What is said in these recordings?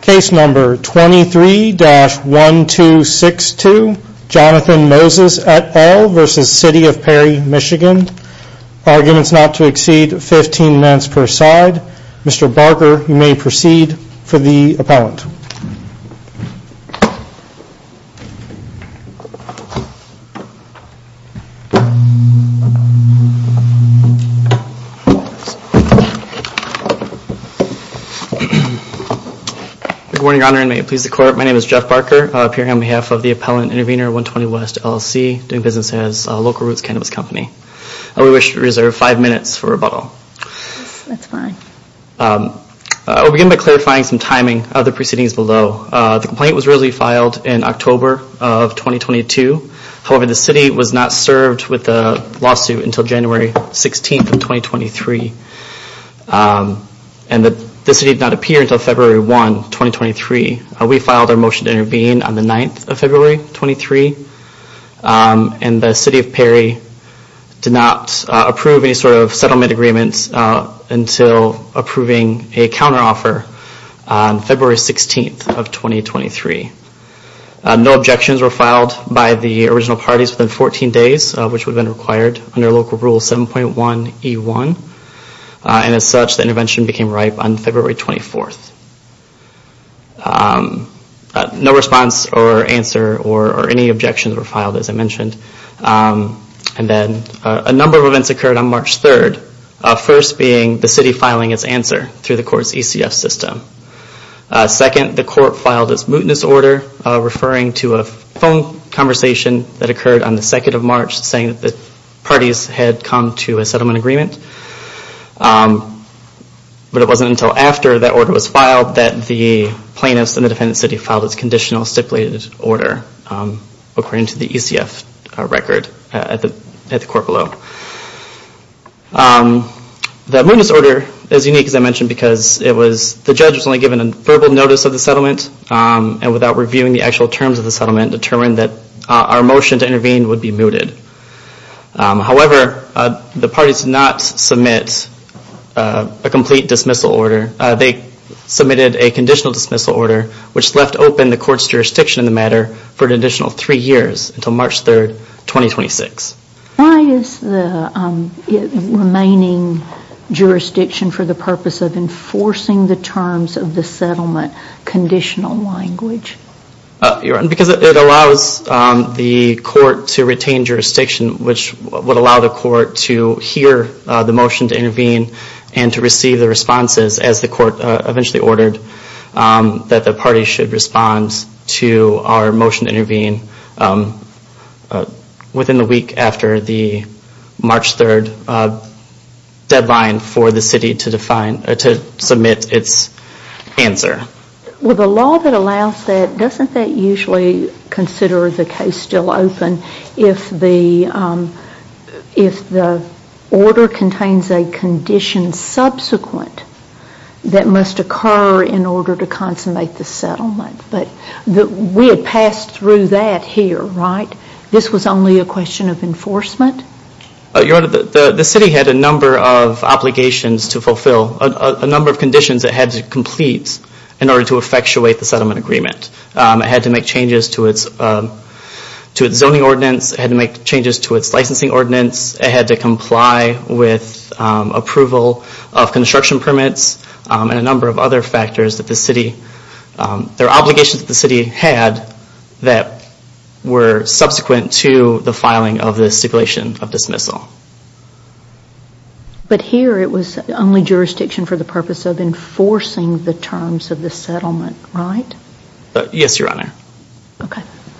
Case number 23-1262 Jonathan Moses et al. v. City of Perry, MI Arguments not to exceed 15 minutes per side. Mr. Barker you may proceed for the appellant. Good morning Your Honor and may it please the Court. My name is Jeff Barker appearing on behalf of the Appellant Intervenor 120 West LLC, doing business as Local Roots Cannabis Company. I would wish to reserve five minutes for rebuttal. That's fine. I'll begin by clarifying some timing of the proceedings below. The complaint was originally filed in October of 2022. However, the City was not served with the lawsuit until January 16th of 2023. And the City did not appear until February 1, 2023. We filed our motion to intervene on the 9th of February, 2023. And the City of Perry did not approve any sort of settlement agreements until approving a counteroffer on February 16th of 2023. No objections were filed by the original parties within 14 days, which would have been required under Local Rule 7.1E1. And as such, the intervention became ripe on February 24th. No response or answer or any objections were filed, as I mentioned. And then a number of events occurred on March 3rd, first being the City filing its answer through the Court's ECF system. Second, the Court filed its mootness order, referring to a phone conversation that occurred on the 2nd of March, saying that the parties had come to a settlement agreement. But it wasn't until after that order was filed that the plaintiffs and the Defendant City filed its conditional stipulated order, according to the ECF record at the Court below. The mootness order is unique, as I mentioned, because the judge was only given a verbal notice of the settlement, and without reviewing the actual terms of the settlement, determined that our motion to intervene would be mooted. However, the parties did not submit a complete dismissal order. They submitted a conditional dismissal order, which left open the Court's jurisdiction in the matter for an additional three years, until March 3rd, 2026. Why is the remaining jurisdiction for the purpose of enforcing the terms of the settlement conditional language? Because it allows the Court to retain jurisdiction, which would allow the Court to hear the motion to intervene and to receive the responses, as the Court eventually ordered, that the parties should respond to our motion to intervene within the week after the March 3rd deadline for the City to submit its answer. Well, the law that allows that, doesn't that usually consider the case still open? If the order contains a condition subsequent that must occur in order to consummate the settlement. But we had passed through that here, right? This was only a question of enforcement? Your Honor, the City had a number of obligations to fulfill, a number of conditions it had to complete, in order to effectuate the settlement agreement. It had to make changes to its zoning ordinance, it had to make changes to its licensing ordinance, it had to comply with approval of construction permits, and a number of other factors that the City, their obligations that the City had, that were subsequent to the filing of the stipulation of dismissal. But here it was only jurisdiction for the purpose of enforcing the terms of the settlement, right? Yes, Your Honor.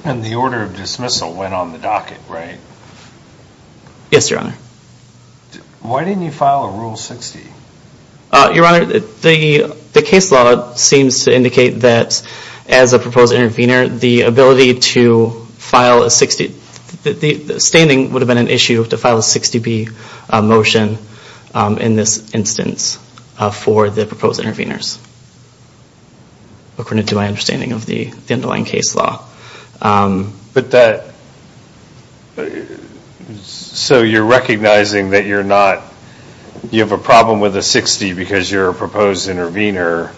And the order of dismissal went on the docket, right? Yes, Your Honor. Why didn't you file a Rule 60? Your Honor, the case law seems to indicate that as a proposed intervener, the ability to file a 60, the standing would have been an issue to file a 60B motion in this instance, for the proposed interveners, according to my understanding of the underlying case law. But that, so you're recognizing that you're not, you have a problem with a 60 because you're a proposed intervener.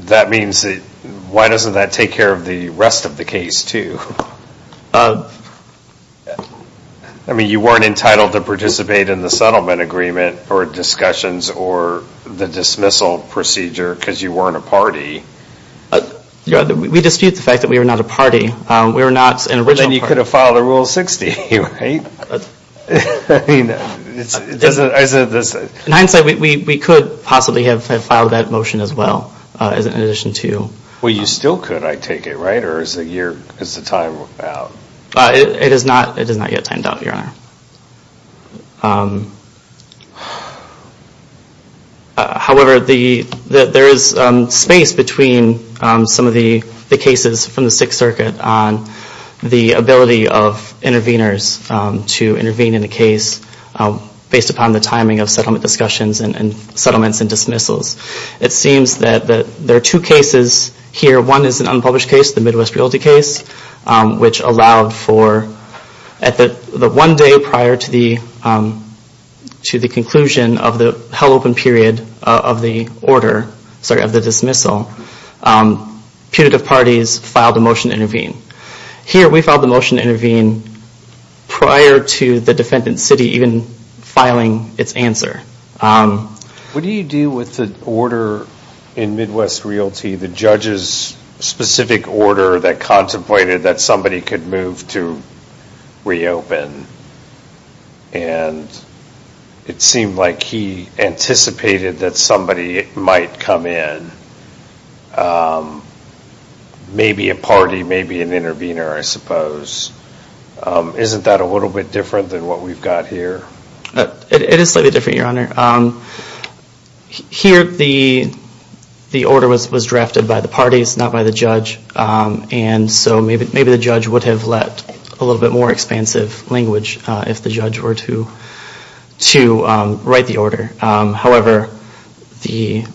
That means, why doesn't that take care of the rest of the case too? I mean, you weren't entitled to participate in the settlement agreement, or discussions, or the dismissal procedure because you weren't a party. We dispute the fact that we were not a party. We were not an original party. But then you could have filed a Rule 60, right? I mean, I said this. In hindsight, we could possibly have filed that motion as well, in addition to. Well, you still could, I take it, right? Or is the time out? It is not yet timed out, Your Honor. However, there is space between some of the cases from the Sixth Circuit on the ability of interveners to intervene in a case, based upon the timing of settlement discussions and settlements and dismissals. It seems that there are two cases here. One is an unpublished case, the Midwest Realty case, which allowed for, at the one day prior to the conclusion of the held open period of the order, sorry, of the dismissal, putative parties filed a motion to intervene. Here, we filed the motion to intervene prior to the defendant's city even filing its answer. What do you do with the order in Midwest Realty, the judge's specific order that contemplated that somebody could move to reopen? And it seemed like he anticipated that somebody might come in, maybe a party, maybe an intervener, I suppose. Isn't that a little bit different than what we've got here? It is slightly different, Your Honor. Here, the order was drafted by the parties, not by the judge, and so maybe the judge would have let a little bit more expansive language if the judge were to write the order. However, the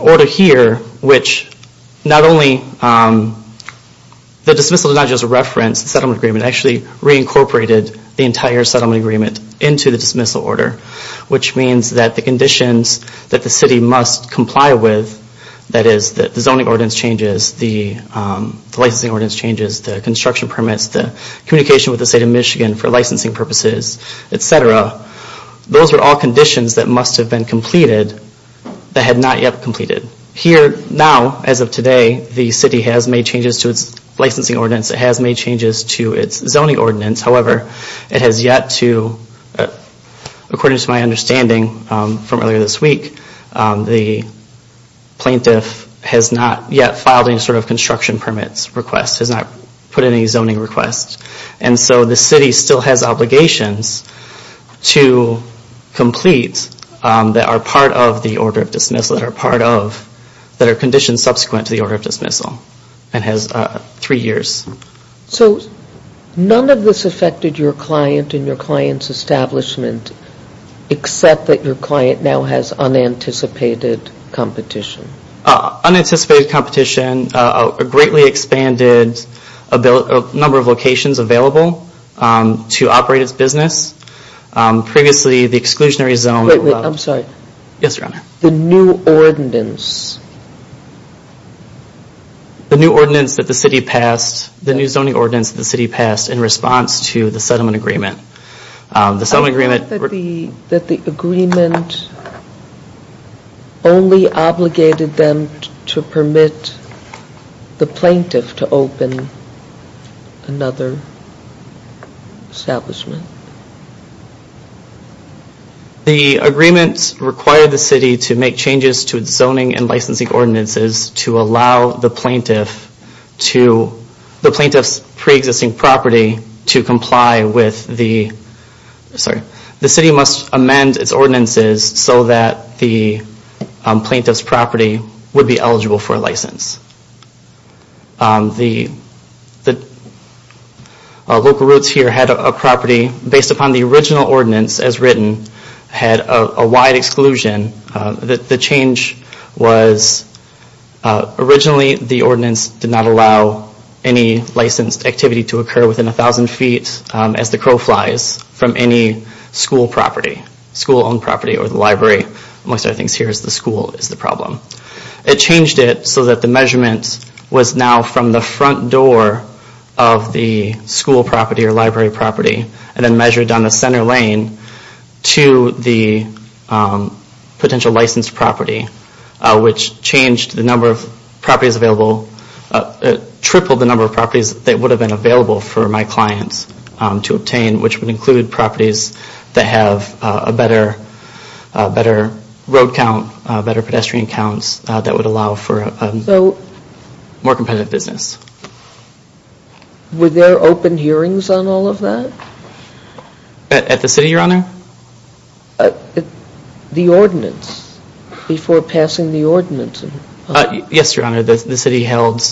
order here, which not only, the dismissal did not just reference the settlement agreement, it actually reincorporated the entire settlement agreement into the dismissal order, which means that the conditions that the city must comply with, that is the zoning ordinance changes, the licensing ordinance changes, the construction permits, the communication with the state of Michigan for licensing purposes, etc., those are all conditions that must have been completed that had not yet completed. Here, now, as of today, the city has made changes to its licensing ordinance, it has made changes to its zoning ordinance, however, it has yet to, according to my understanding from earlier this week, the plaintiff has not yet filed any sort of construction permits request, has not put in any zoning requests, and so the city still has obligations to complete that are part of the order of dismissal, that are part of, that are conditions subsequent to the order of dismissal, and has three years. So, none of this affected your client and your client's establishment, except that your client now has unanticipated competition? Unanticipated competition, a greatly expanded number of locations available to operate its business. Previously, the exclusionary zone... Wait a minute, I'm sorry. Yes, Your Honor. The new ordinance... The new ordinance that the city passed, the new zoning ordinance that the city passed in response to the settlement agreement. The settlement agreement... That the agreement only obligated them to permit the plaintiff to open another establishment. The agreement required the city to make changes to its zoning and licensing ordinances to allow the plaintiff to... The plaintiff's pre-existing property to comply with the... Sorry. The city must amend its ordinances so that the plaintiff's property would be eligible for license. The local roots here had a property, based upon the original ordinance as written, had a wide exclusion. The change was... Originally, the ordinance did not allow any licensed activity to occur within a thousand feet as the crow flies from any school property, school-owned property or the library. Most of the things here is the school is the problem. It changed it so that the measurement was now from the front door of the school property or library property and then measured down the center lane to the potential licensed property, which changed the number of properties available, tripled the number of properties that would have been available for my clients to obtain, which would include properties that have a better road count, better pedestrian counts, that would allow for a more competitive business. Were there open hearings on all of that? At the city, Your Honor? The ordinance, before passing the ordinance. Yes, Your Honor, the city held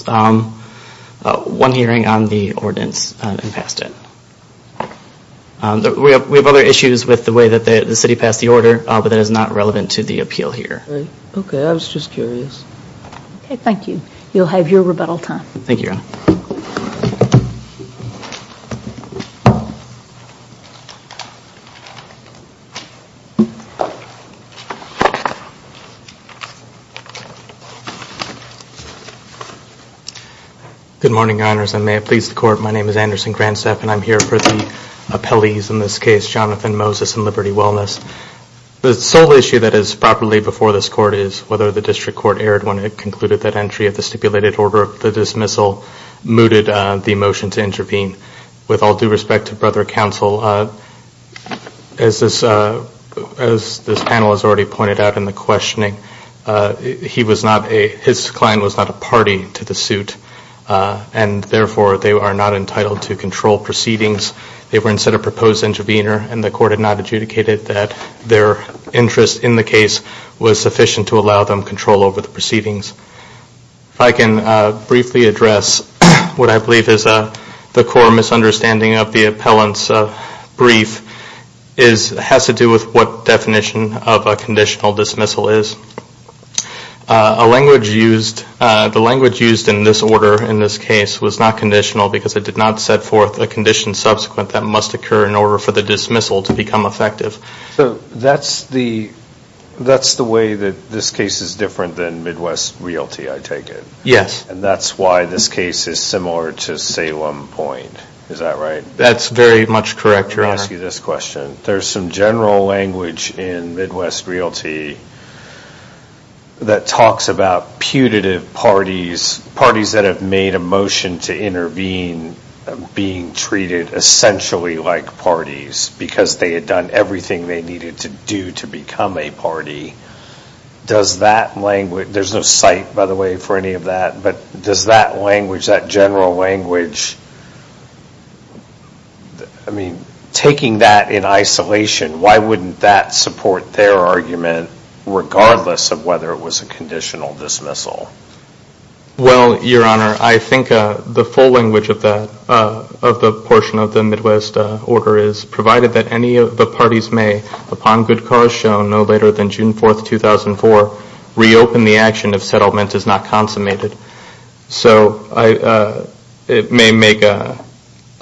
one hearing on the ordinance and passed it. We have other issues with the way that the city passed the order, but that is not relevant to the appeal here. Okay, I was just curious. Okay, thank you. You'll have your rebuttal time. Thank you, Your Honor. Good morning, Your Honors, and may it please the Court, my name is Anderson Grandstaff, and I'm here for the appellees in this case, Jonathan Moses and Liberty Wellness. The sole issue that is properly before this Court is whether the district court erred when it concluded that entry of the stipulated order of the dismissal mooted the motion to intervene. With all due respect to Brother Counsel, as this panel has already pointed out in the questioning, his client was not a party to the suit, and therefore they are not entitled to control proceedings. They were instead a proposed intervener, and the Court had not adjudicated that their interest in the case was sufficient to allow them control over the proceedings. If I can briefly address what I believe is the core misunderstanding of the appellant's brief, it has to do with what definition of a conditional dismissal is. The language used in this order in this case was not conditional, because it did not set forth a condition subsequent that must occur in order for the dismissal to become effective. So that's the way that this case is different than Midwest Realty, I take it? Yes. And that's why this case is similar to Salem Point, is that right? That's very much correct, you're asking this question. There's some general language in Midwest Realty that talks about putative parties, parties that have made a motion to intervene being treated essentially like parties, because they had done everything they needed to do to become a party. Does that language, there's no cite, by the way, for any of that, but does that language, that general language, I mean, taking that in isolation, why wouldn't that support their argument regardless of whether it was a conditional dismissal? Well, Your Honor, I think the full language of the portion of the Midwest order is, provided that any of the parties may, upon good cause shown no later than June 4, 2004, reopen the action if settlement is not consummated. So it may make a,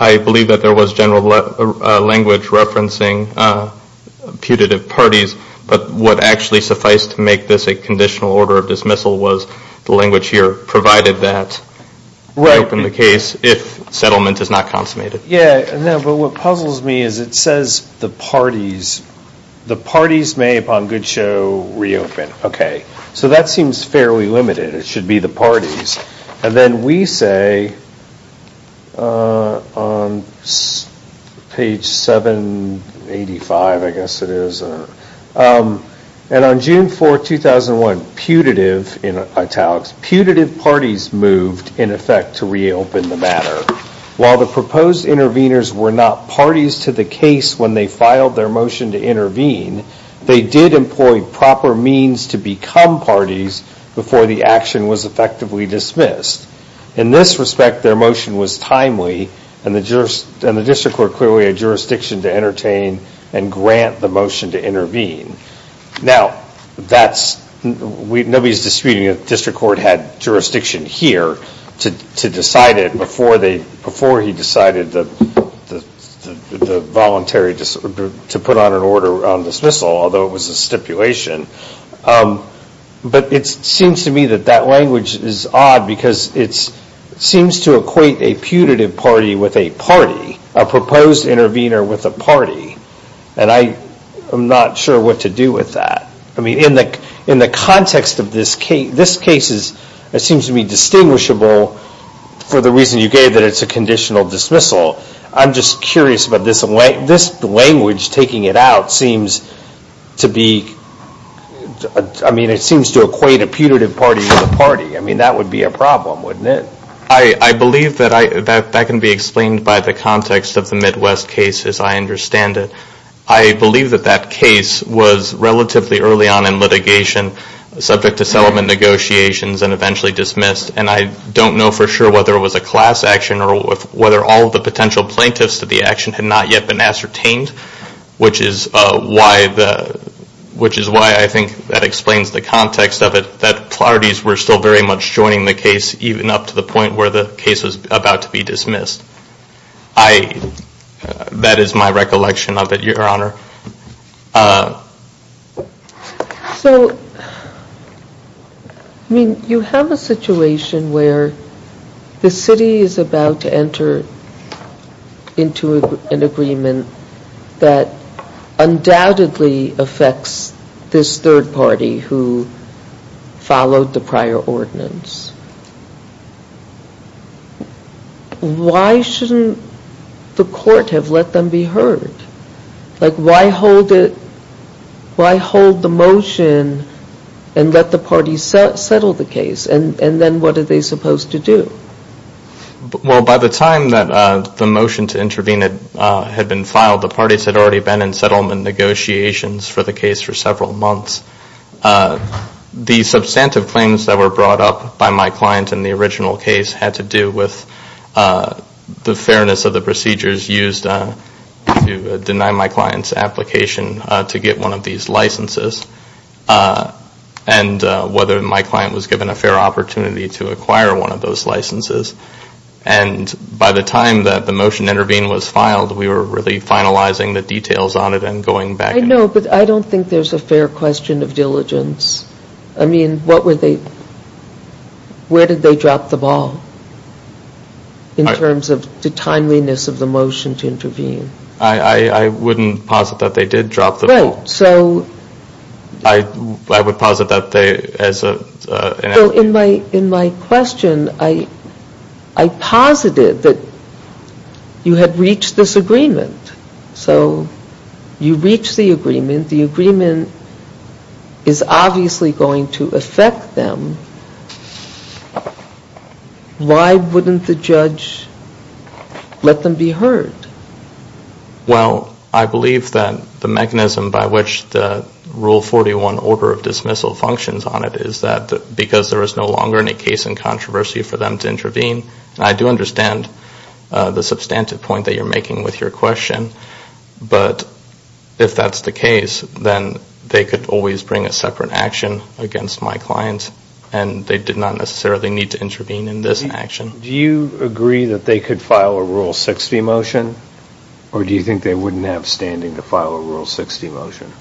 I believe that there was general language referencing putative parties, but what actually sufficed to make this a conditional order of dismissal was the language here, provided that reopen the case if settlement is not consummated. Yeah, but what puzzles me is it says the parties, the parties may, upon good show, reopen. Okay, so that seems fairly limited. It should be the parties, and then we say on page 785, I guess it is, and on June 4, 2001, putative in italics, putative parties moved in effect to reopen the matter. While the proposed interveners were not parties to the case when they filed their motion to intervene, they did employ proper means to become parties before the action was effectively dismissed. In this respect, their motion was timely, and the district court clearly had jurisdiction to entertain and grant the motion to intervene. Now, nobody is disputing that the district court had jurisdiction here to decide it before he decided to put on an order on dismissal, although it was a stipulation. But it seems to me that that language is odd because it seems to equate a putative party with a party, a proposed intervener with a party, and I'm not sure what to do with that. I mean, in the context of this case, this case seems to be distinguishable for the reason you gave that it's a conditional dismissal. I'm just curious about this language taking it out seems to be, I mean, it seems to equate a putative party with a party. I mean, that would be a problem, wouldn't it? I believe that that can be explained by the context of the Midwest case as I understand it. I believe that that case was relatively early on in litigation, subject to settlement negotiations and eventually dismissed, and I don't know for sure whether it was a class action or whether all of the potential plaintiffs to the action had not yet been ascertained, which is why I think that explains the context of it, that parties were still very much joining the case even up to the point where the case was about to be dismissed. That is my recollection of it, Your Honor. So, I mean, you have a situation where the city is about to enter into an agreement that undoubtedly affects this third party who followed the prior ordinance. Why shouldn't the court have let them be heard? Like, why hold the motion and let the parties settle the case, and then what are they supposed to do? Well, by the time that the motion to intervene had been filed, the parties had already been in settlement negotiations for the case for several months. The substantive claims that were brought up by my client in the original case had to do with the fairness of the procedures used to deny my client's application to get one of these licenses, and whether my client was given a fair opportunity to acquire one of those licenses. And by the time that the motion to intervene was filed, we were really finalizing the details on it and going back. I know, but I don't think there's a fair question of diligence. I mean, what were they, where did they drop the ball in terms of the timeliness of the motion to intervene? I wouldn't posit that they did drop the ball. Right, so... I would posit that they, as a... So in my question, I posited that you had reached this agreement. So you reached the agreement. The agreement is obviously going to affect them. Why wouldn't the judge let them be heard? Well, I believe that the mechanism by which the Rule 41 order of dismissal functions on it is that because there is no longer any case in controversy for them to intervene, and I do understand the substantive point that you're making with your question, but if that's the case, then they could always bring a separate action against my client, and they did not necessarily need to intervene in this action. Do you agree that they could file a Rule 60 motion, or do you think they wouldn't have standing to file a Rule 60 motion?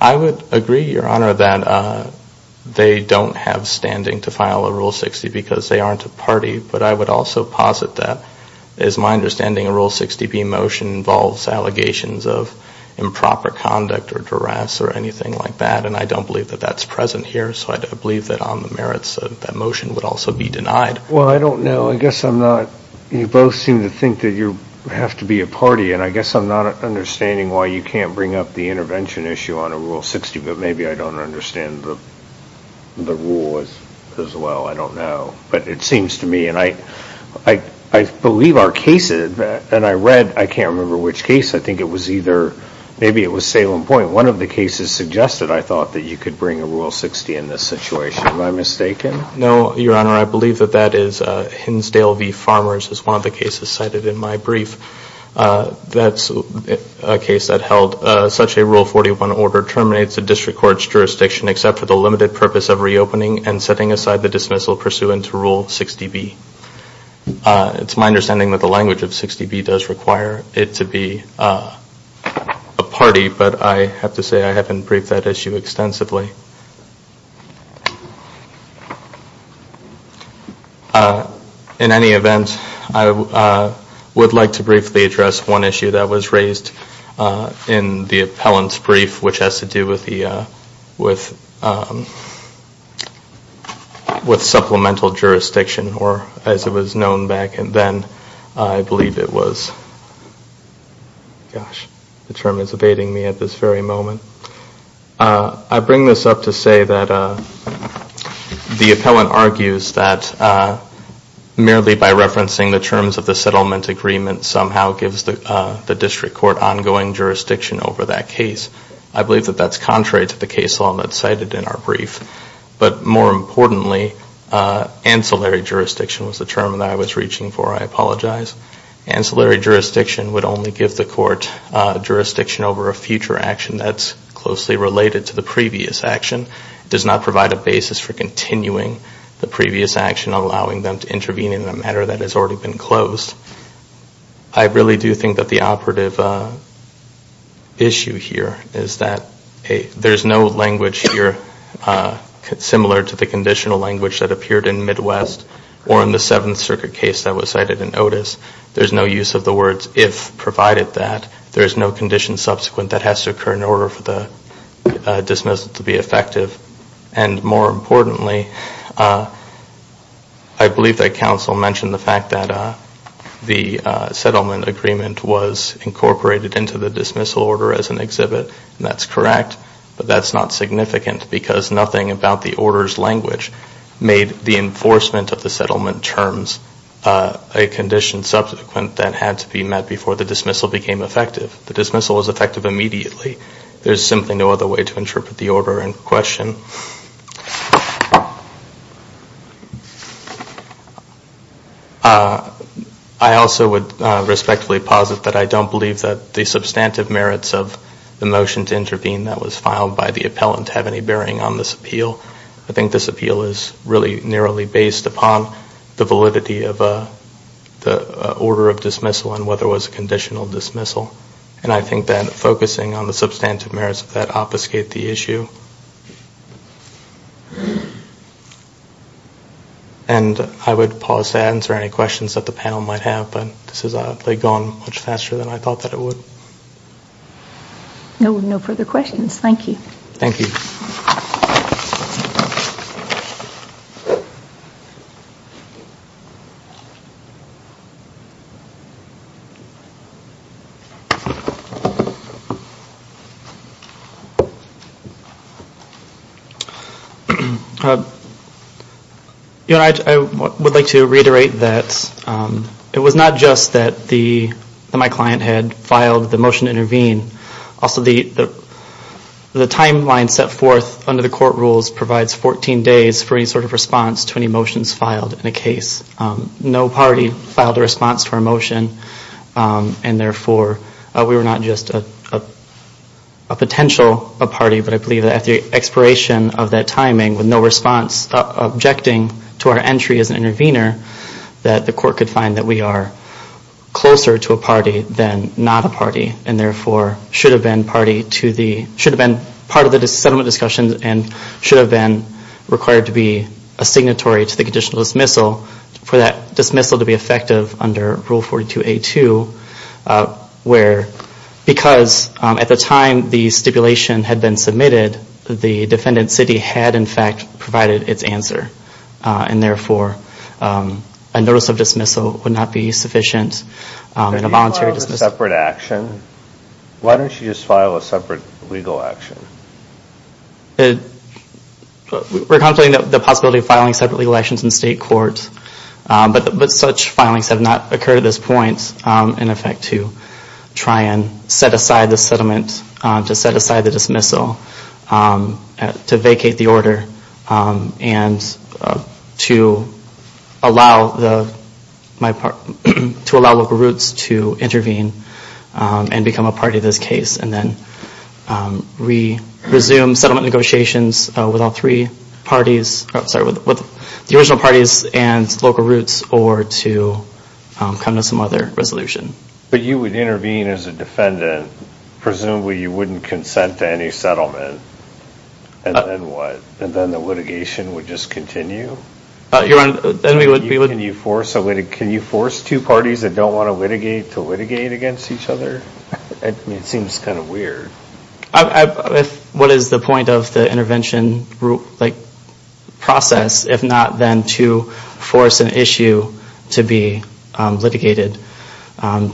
I would agree, Your Honor, that they don't have standing to file a Rule 60 because they aren't a party, but I would also posit that, as my understanding, a Rule 60b motion involves allegations of improper conduct or duress or anything like that, and I don't believe that that's present here, so I believe that on the merits of that motion would also be denied. Well, I don't know. I guess I'm not – you both seem to think that you have to be a party, and I guess I'm not understanding why you can't bring up the intervention issue on a Rule 60, but maybe I don't understand the rule as well. I don't know, but it seems to me, and I believe our cases, and I read – I can't remember which case. I think it was either – maybe it was Salem Point. One of the cases suggested, I thought, that you could bring a Rule 60 in this situation. Am I mistaken? No, Your Honor. I believe that that is Hinsdale v. Farmers is one of the cases cited in my brief. That's a case that held such a Rule 41 order terminates a district court's jurisdiction except for the limited purpose of reopening and setting aside the dismissal pursuant to Rule 60b. It's my understanding that the language of 60b does require it to be a party, but I have to say I haven't briefed that issue extensively. In any event, I would like to briefly address one issue that was raised in the appellant's brief, which has to do with supplemental jurisdiction, or as it was known back then, I believe it was – gosh, the term is evading me at this very moment. I bring this up to say that the appellant argues that merely by referencing the terms of the settlement agreement somehow gives the district court ongoing jurisdiction over that case. I believe that that's contrary to the case law that's cited in our brief. But more importantly, ancillary jurisdiction was the term that I was reaching for. I apologize. Ancillary jurisdiction would only give the court jurisdiction over a future action that's closely related to the previous action. It does not provide a basis for continuing the previous action, allowing them to intervene in a matter that has already been closed. I really do think that the operative issue here is that there's no language here similar to the conditional language that appeared in Midwest or in the Seventh Circuit case that was cited in Otis. There's no use of the words if provided that. There is no condition subsequent that has to occur in order for the dismissal to be effective. And more importantly, I believe that counsel mentioned the fact that the settlement agreement was incorporated into the dismissal order as an exhibit, and that's correct, but that's not significant because nothing about the order's language made the enforcement of the settlement terms a condition subsequent that had to be met before the dismissal became effective. The dismissal was effective immediately. There's simply no other way to interpret the order in question. I also would respectfully posit that I don't believe that the substantive merits of the motion to intervene that was filed by the appellant have any bearing on this appeal. I think this appeal is really narrowly based upon the validity of the order of dismissal and whether it was a conditional dismissal. And I think that focusing on the substantive merits of that obfuscate the issue. And I would pause to answer any questions that the panel might have, but this has gone much faster than I thought that it would. No further questions. Thank you. Thank you. I would like to reiterate that it was not just that my client had filed the motion to intervene. Also, the timeline set forth under the court rules provides 14 days for any sort of response to any motions filed in a case. No party filed a response to our motion, and therefore we were not just a potential party, but I believe that at the expiration of that timing with no response objecting to our entry as an intervener, that the court could find that we are closer to a party than not a party, and therefore should have been part of the settlement discussion and should have been required to be a signatory to the conditional dismissal for that dismissal to be effective under Rule 42A2, where because at the time the stipulation had been submitted, the defendant's city had in fact provided its answer, and therefore a notice of dismissal would not be sufficient in a voluntary dismissal. Why don't you just file a separate legal action? We're contemplating the possibility of filing separate legal actions in state court, but such filings have not occurred at this point, in effect, to try and set aside the settlement, to set aside the dismissal, to vacate the order, and to allow Local Roots to intervene and become a party to this case, and then resume settlement negotiations with the original parties and Local Roots or to come to some other resolution. But you would intervene as a defendant. Presumably you wouldn't consent to any settlement, and then what? And then the litigation would just continue? Can you force two parties that don't want to litigate to litigate against each other? It seems kind of weird. What is the point of the intervention process, if not then to force an issue to be litigated,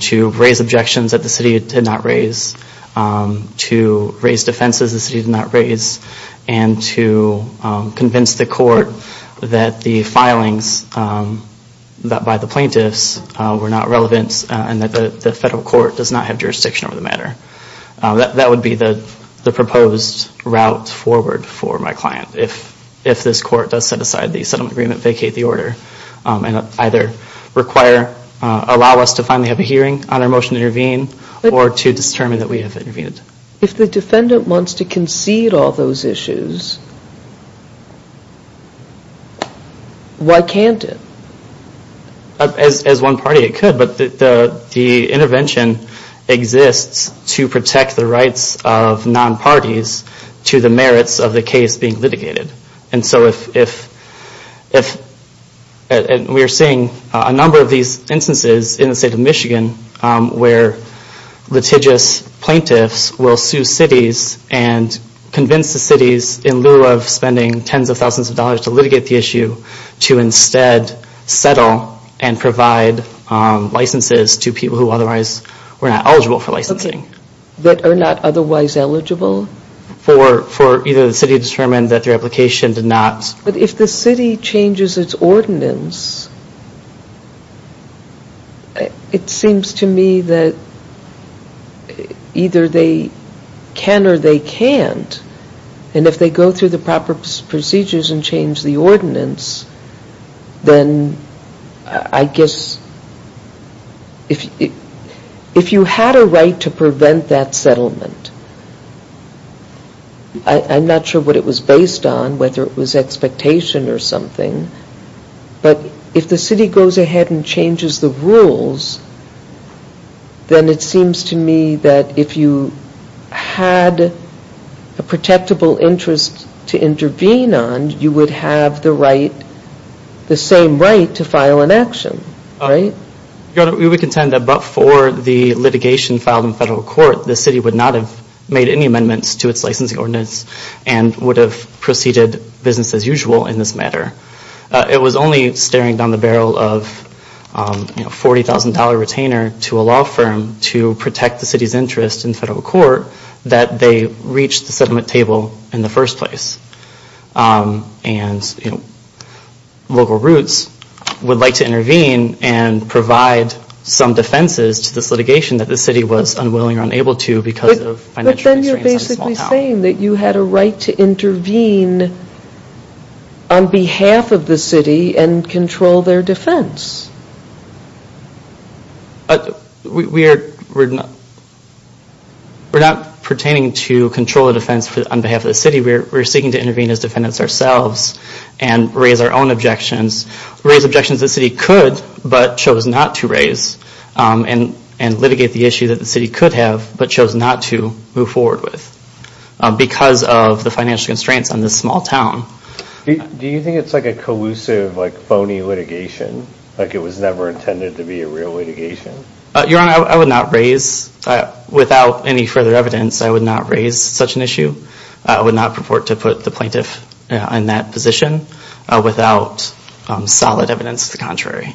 to raise objections that the city did not raise, to raise defenses the city did not raise, and to convince the court that the filings by the plaintiffs were not relevant and that the federal court does not have jurisdiction over the matter. That would be the proposed route forward for my client if this court does set aside the settlement agreement, vacate the order, and either allow us to finally have a hearing on our motion to intervene or to determine that we have intervened. If the defendant wants to concede all those issues, why can't it? As one party it could, but the intervention exists to protect the rights of non-parties to the merits of the case being litigated. We are seeing a number of these instances in the state of Michigan where litigious plaintiffs will sue cities and convince the cities, in lieu of spending tens of thousands of dollars to litigate the issue, to instead settle and provide licenses to people who otherwise were not eligible for licensing. That are not otherwise eligible? For either the city to determine that their application did not. But if the city changes its ordinance, it seems to me that either they can or they can't, and if they go through the proper procedures and change the ordinance, then I guess if you had a right to prevent that settlement, I'm not sure what it was based on, whether it was expectation or something, but if the city goes ahead and changes the rules, then it seems to me that if you had a protectable interest to intervene on, then you would have the same right to file an action, right? Your Honor, we would contend that but for the litigation filed in federal court, the city would not have made any amendments to its licensing ordinance and would have proceeded business as usual in this matter. It was only staring down the barrel of a $40,000 retainer to a law firm to protect the city's interest in federal court that they reached the settlement table in the first place. And Local Roots would like to intervene and provide some defenses to this litigation that the city was unwilling or unable to because of financial constraints. But then you're basically saying that you had a right to intervene on behalf of the city and control their defense. We're not pertaining to control the defense on behalf of the city. We're seeking to intervene as defendants ourselves and raise our own objections, raise objections the city could but chose not to raise and litigate the issue that the city could have but chose not to move forward with because of the financial constraints on this small town. Do you think it's like a collusive, phony litigation? Like it was never intended to be a real litigation? Your Honor, I would not raise, without any further evidence, I would not raise such an issue. I would not purport to put the plaintiff in that position without solid evidence to the contrary.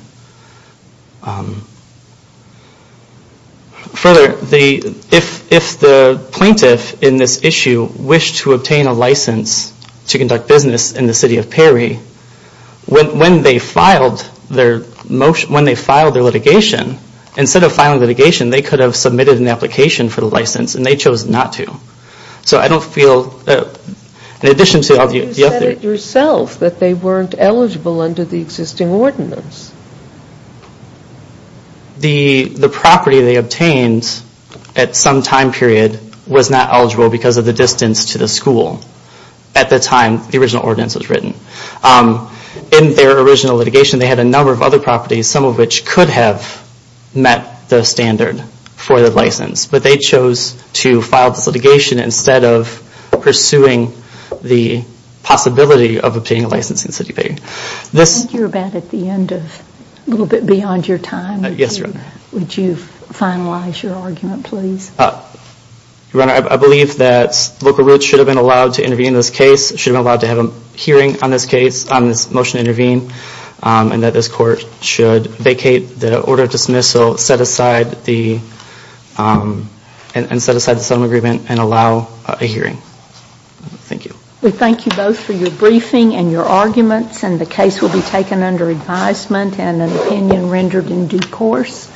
Further, if the plaintiff in this issue wished to obtain a license to conduct business in the city of Perry, when they filed their litigation, instead of filing litigation, they could have submitted an application for the license and they chose not to. So I don't feel, in addition to all the other... The property they obtained at some time period was not eligible because of the distance to the school at the time the original ordinance was written. In their original litigation, they had a number of other properties, some of which could have met the standard for the license, but they chose to file this litigation instead of pursuing the possibility of obtaining a license in city of Perry. I think you're about at the end of, a little bit beyond your time. Yes, Your Honor. Would you finalize your argument, please? Your Honor, I believe that Local Roots should have been allowed to intervene in this case, should have been allowed to have a hearing on this case, on this motion to intervene, and that this Court should vacate the order of dismissal, set aside the settlement agreement, and allow a hearing. Thank you. We thank you both for your briefing and your arguments, and the case will be taken under advisement and an opinion rendered in due course.